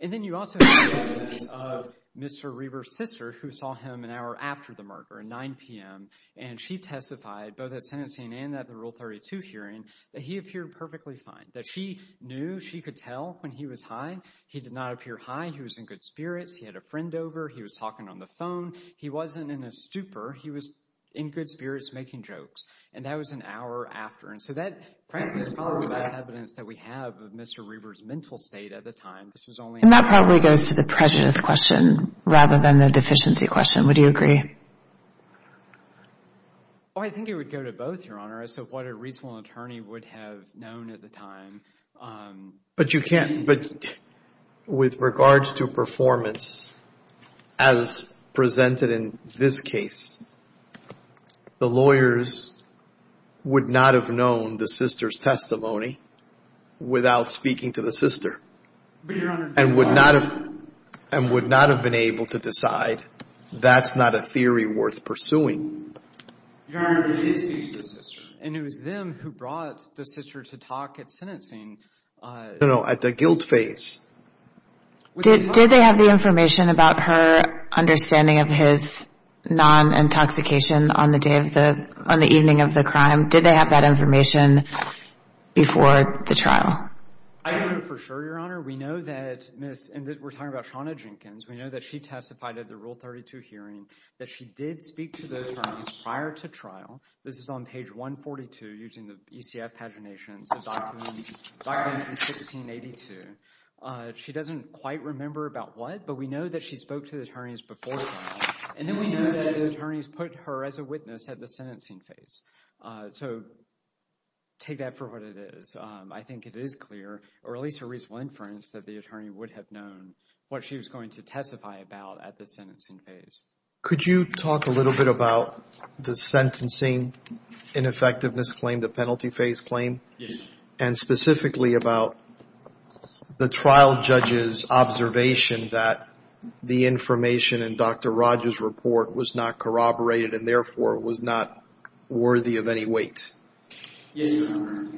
And then you also have the argument of Mr. Reber's sister who saw him an hour after the murder at 9 p.m., and she testified, both at sentencing and at the Rule 32 hearing, that he appeared perfectly fine, that she knew she could tell when he was high. He did not appear high. He was in good spirits. He had a friend over. He was talking on the phone. He wasn't in a stupor. He was in good spirits making jokes. And that was an hour after. So that, frankly, is probably the best evidence that we have of Mr. Reber's mental state at the time. And that probably goes to the prejudice question rather than the deficiency question. Would you agree? Oh, I think it would go to both, Your Honor, as to what a reasonable attorney would have known at the time. But you can't, but with regards to performance, as presented in this case, the lawyers would not have known the sister's testimony without speaking to the sister. And would not have been able to decide, that's not a theory worth pursuing. Your Honor, they did speak to the sister. And it was them who brought the sister to talk at sentencing. No, no, at the guilt phase. Did they have the information about her understanding of his non-intoxication on the day of the, on the evening of the crime? Did they have that information before the trial? I don't know for sure, Your Honor. We know that Ms., and we're talking about Shawna Jenkins, we know that she testified at the Rule 32 hearing, that she did speak to those attorneys prior to trial. This is on page 142, using the ECF paginations, the document from 1682. She doesn't quite remember about what, but we know that she spoke to the attorneys before trial. And then we know that the attorneys put her as a witness at the sentencing phase. So, take that for what it is. I think it is clear, or at least a reasonable inference, that the attorney would have known what she was going to testify about at the sentencing phase. Could you talk a little bit about the sentencing ineffectiveness claim, the penalty phase claim? And specifically about the trial judge's observation that the information in Dr. Rogers' report was not corroborated, and therefore was not worthy of any weight. Yes, sir.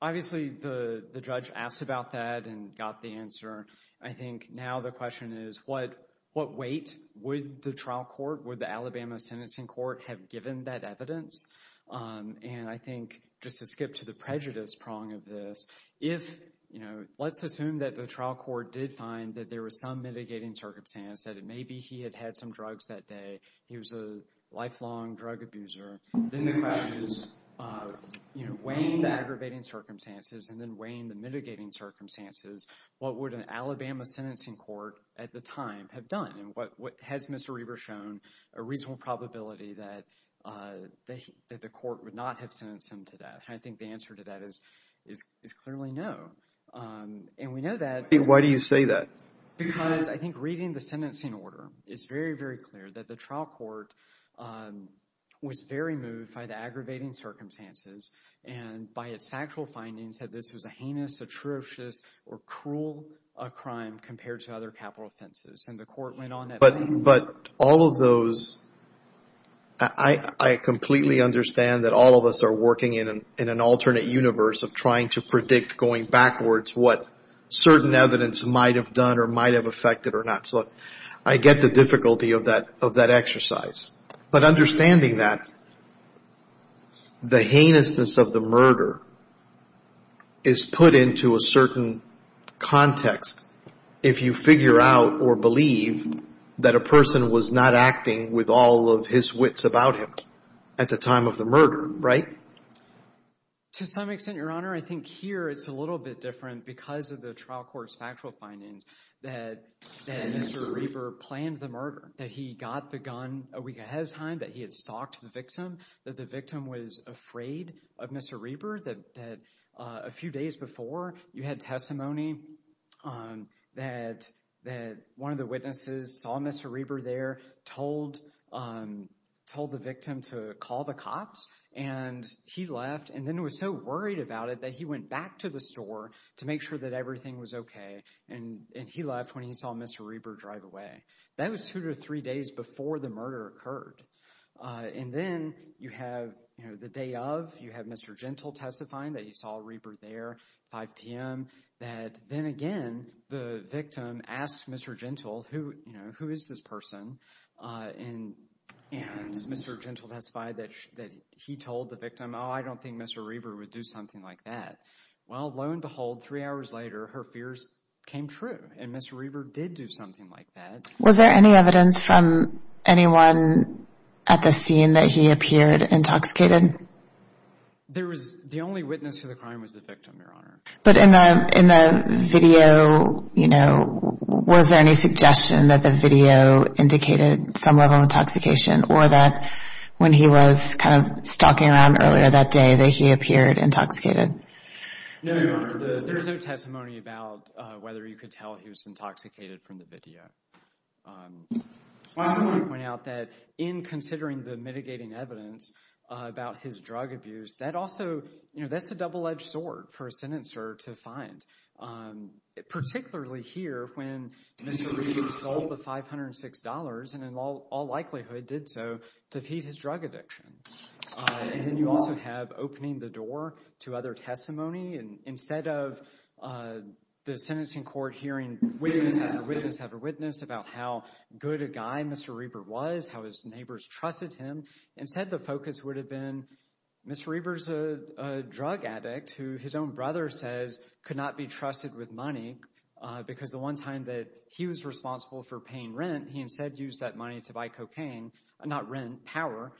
Obviously, the judge asked about that and got the answer. I think now the question is, what weight would the trial court, would the Alabama sentencing court have given that evidence? And I think, just to skip to the prejudice prong of this, let's assume that the trial court did find that there was some mitigating circumstance, that maybe he had had some drugs that day, he was a lifelong drug abuser. Then the question is, weighing the aggravating circumstances and then weighing the mitigating circumstances, what would an Alabama sentencing court at the time have done? And has Mr. Reber shown a reasonable probability that the court would not have sentenced him to death? And I think the answer to that is clearly no. And we know that. Why do you say that? Because I think reading the sentencing order, it's very, very clear that the trial court was very moved by the aggravating circumstances and by its factual findings that this was a heinous, atrocious, or cruel crime compared to other capital offenses. And the court went on that. But all of those, I completely understand that all of us are working in an alternate universe of trying to predict going backwards what certain evidence might have done or might have affected or not. So I get the difficulty of that exercise. But understanding that, the heinousness of the murder is put into a certain context if you figure out or believe that a person was not acting with all of his wits about him at the time of the murder, right? To some extent, Your Honor, I think here it's a little bit different because of the trial court's factual findings that Mr. Reber planned the murder, that he got the gun a week ahead of time, that he had stalked the victim, that the victim was afraid of Mr. Reber, that a few days before you had testimony that one of the witnesses saw Mr. Reber there, told the victim to call the cops, and he left. And then was so worried about it that he went back to the store to make sure that everything was okay, and he left when he saw Mr. Reber drive away. That was two to three days before the murder occurred. And then you have the day of, you have Mr. Gentile testifying that he saw Reber there, 5 p.m., that then again the victim asked Mr. Gentile, who is this person, and Mr. Gentile testified that he told the victim, oh, I don't think Mr. Reber would do something like that. Well, lo and behold, three hours later, her fears came true, and Mr. Reber did do something like that. Was there any evidence from anyone at the scene that he appeared intoxicated? The only witness to the crime was the victim, Your Honor. But in the video, you know, was there any suggestion that the video indicated some level of intoxication, or that when he was kind of stalking around earlier that day that he appeared intoxicated? No, Your Honor. There's no testimony about whether you could tell he was intoxicated from the video. I also want to point out that in considering the mitigating evidence about his drug abuse, that also, you know, that's a double-edged sword for a sentencer to find, particularly here when Mr. Reber sold the $506 and in all likelihood did so to feed his drug addiction. And then you also have opening the door to other testimony. Instead of the sentencing court hearing witness after witness after witness about how good a guy Mr. Reber was, how his neighbors trusted him, instead the focus would have been Mr. Reber's a drug addict who his own brother says could not be trusted with money because the one time that he was responsible for paying rent, he instead used that money to buy cocaine, not rent, power,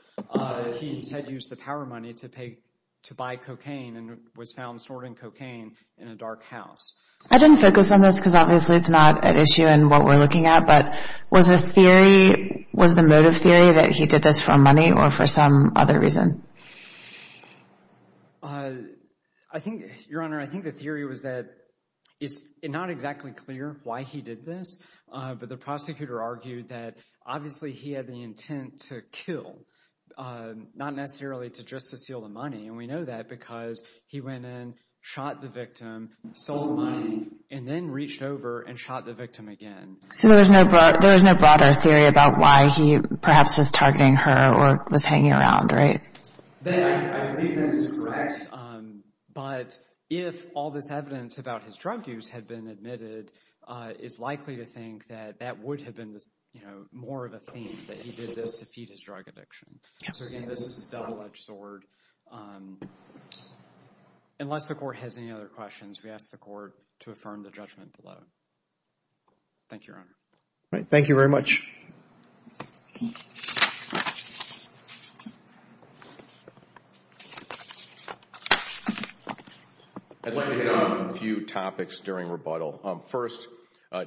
he instead used the power money to buy cocaine and was found snorting cocaine in a dark house. I didn't focus on this because obviously it's not an issue in what we're looking at, but was the motive theory that he did this for money or for some other reason? Your Honor, I think the theory was that it's not exactly clear why he did this, but the prosecutor argued that obviously he had the intent to kill, not necessarily just to steal the money, and we know that because he went in, shot the victim, stole the money, and then reached over and shot the victim again. So there was no broader theory about why he perhaps was targeting her or was hanging around, right? I believe that is correct, but if all this evidence about his drug use had been admitted, it's likely to think that that would have been more of a theme that he did this to feed his drug addiction. So again, this is a double-edged sword. Unless the Court has any other questions, we ask the Court to affirm the judgment below. Thank you, Your Honor. All right. Thank you very much. I'd like to hit on a few topics during rebuttal. First,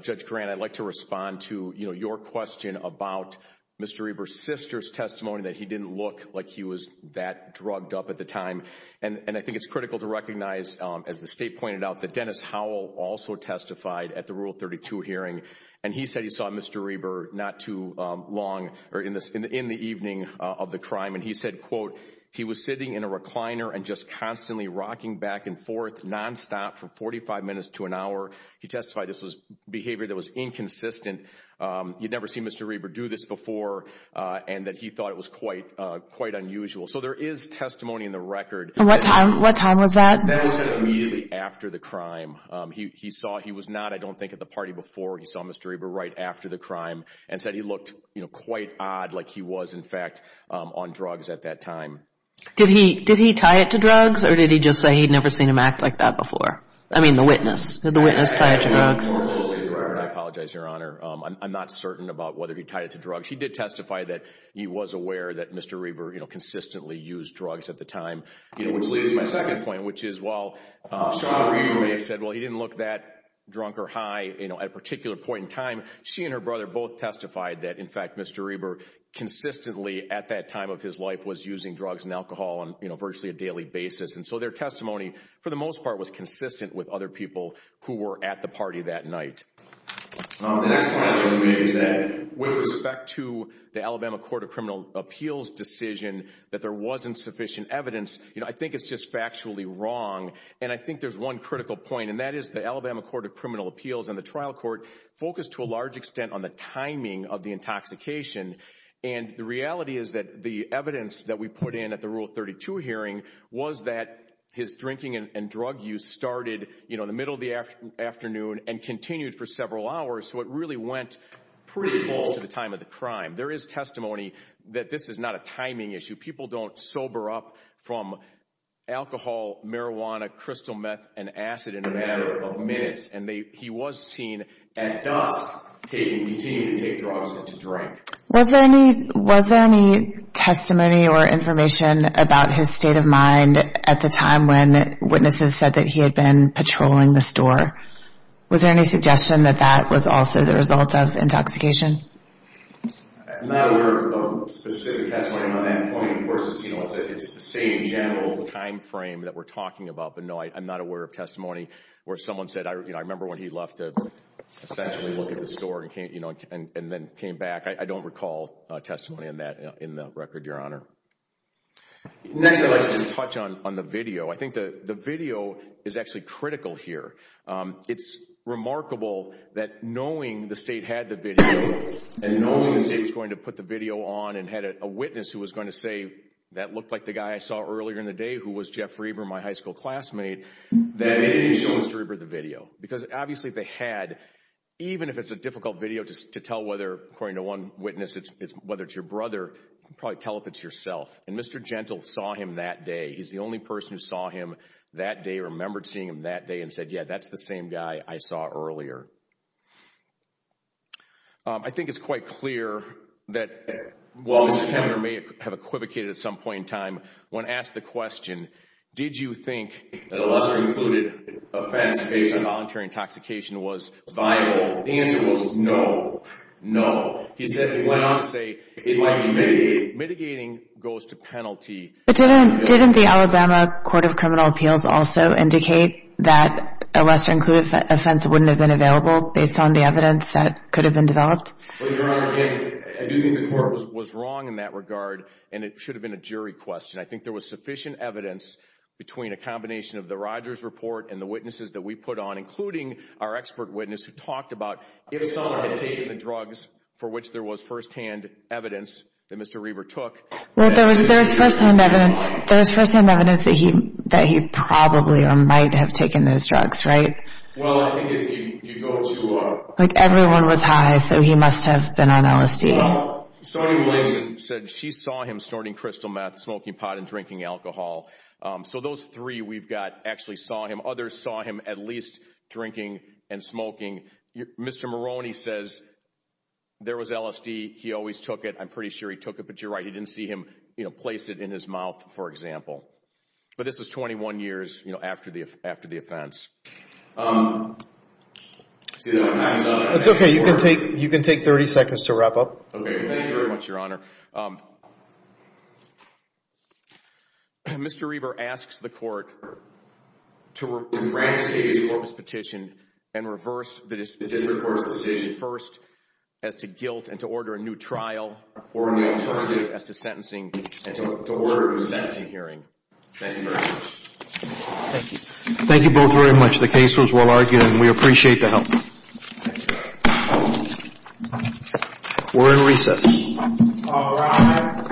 Judge Grant, I'd like to respond to your question about Mr. Reber's sister's testimony that he didn't look like he was that drugged up at the time, and I think it's critical to recognize, as the State pointed out, that Dennis Howell also testified at the Rule 32 hearing, and he said he saw Mr. Reber not too long or in the evening of the crime, and he said, quote, he was sitting in a recliner and just constantly rocking back and forth, nonstop, for 45 minutes to an hour. He testified this was behavior that was inconsistent. You'd never seen Mr. Reber do this before, and that he thought it was quite unusual. So there is testimony in the record. At what time? What time was that? Dennis said immediately after the crime. He saw he was not, I don't think, at the party before. He saw Mr. Reber right after the crime and said he looked quite odd, like he was, in fact, on drugs at that time. Did he tie it to drugs, or did he just say he'd never seen him act like that before? I mean, the witness. Did the witness tie it to drugs? I apologize, Your Honor. I'm not certain about whether he tied it to drugs. He did testify that he was aware that Mr. Reber consistently used drugs at the time, which leads to my second point, which is while Sean Reber may have said, well, he didn't look that drunk or high at a particular point in time, she and her brother both testified that, in fact, Mr. Reber consistently, at that time of his life, was using drugs and alcohol on virtually a daily basis. And so their testimony, for the most part, was consistent with other people who were at the party that night. The next point I'd like to make is that, with respect to the Alabama Court of Criminal Appeals' decision that there wasn't sufficient evidence, I think it's just factually wrong. And I think there's one critical point, and that is the Alabama Court of Criminal Appeals and the trial court focused to a large extent on the timing of the intoxication. And the reality is that the evidence that we put in at the Rule 32 hearing was that his drinking and drug use started in the middle of the afternoon and continued for several hours, so it really went pretty close to the time of the crime. There is testimony that this is not a timing issue. People don't sober up from alcohol, marijuana, crystal meth, and acid in a matter of minutes, and he was seen at dusk continuing to take drugs and to drink. Was there any testimony or information about his state of mind at the time when witnesses said that he had been patrolling the store? Was there any suggestion that that was also the result of intoxication? I'm not aware of specific testimony on that point. Of course, it's the same general time frame that we're talking about, but, no, I'm not aware of testimony where someone said, I remember when he left to essentially look at the store and then came back. I don't recall testimony on that in the record, Your Honor. Next, I'd like to just touch on the video. I think the video is actually critical here. It's remarkable that knowing the state had the video and knowing the state was going to put the video on and had a witness who was going to say, that looked like the guy I saw earlier in the day who was Jeff Reber, my high school classmate, that they didn't show Mr. Reber the video. Because, obviously, they had, even if it's a difficult video to tell whether, according to one witness, whether it's your brother, you could probably tell if it's yourself. And Mr. Gentle saw him that day. He's the only person who saw him that day, but he remembered seeing him that day and said, yeah, that's the same guy I saw earlier. I think it's quite clear that, while Mr. Kemner may have equivocated at some point in time, when asked the question, did you think that a lesser-included offense based on voluntary intoxication was viable, the answer was no, no. He went on to say it might be mitigated. Mitigating goes to penalty. But didn't the Alabama Court of Criminal Appeals also indicate that a lesser-included offense wouldn't have been available based on the evidence that could have been developed? Well, Your Honor, again, I do think the court was wrong in that regard, and it should have been a jury question. I think there was sufficient evidence between a combination of the Rogers report and the witnesses that we put on, including our expert witness who talked about if someone had taken the drugs for which there was firsthand evidence that Mr. Reber took. Well, there was firsthand evidence that he probably or might have taken those drugs, right? Well, I think if you go to... Like, everyone was high, so he must have been on LSD. Well, Sonny Blanton said she saw him snorting crystal meth, smoking pot, and drinking alcohol. So those three we've got actually saw him. Others saw him at least drinking and smoking. Mr. Maroney says there was LSD. He always took it. I'm pretty sure he took it. But you're right, he didn't see him, you know, place it in his mouth, for example. But this was 21 years, you know, after the offense. Um... It's okay, you can take 30 seconds to wrap up. Okay, thank you very much, Your Honor. Mr. Reber asks the court to grant a state-based corpus petition and reverse the district court's decision first as to guilt and to order a new trial or in the alternative as to sentencing and to order a sentencing hearing. Thank you very much. Thank you. Thank you both very much. The case was well argued, and we appreciate the help. Thank you, Your Honor. We're in recess. All rise. Thank you.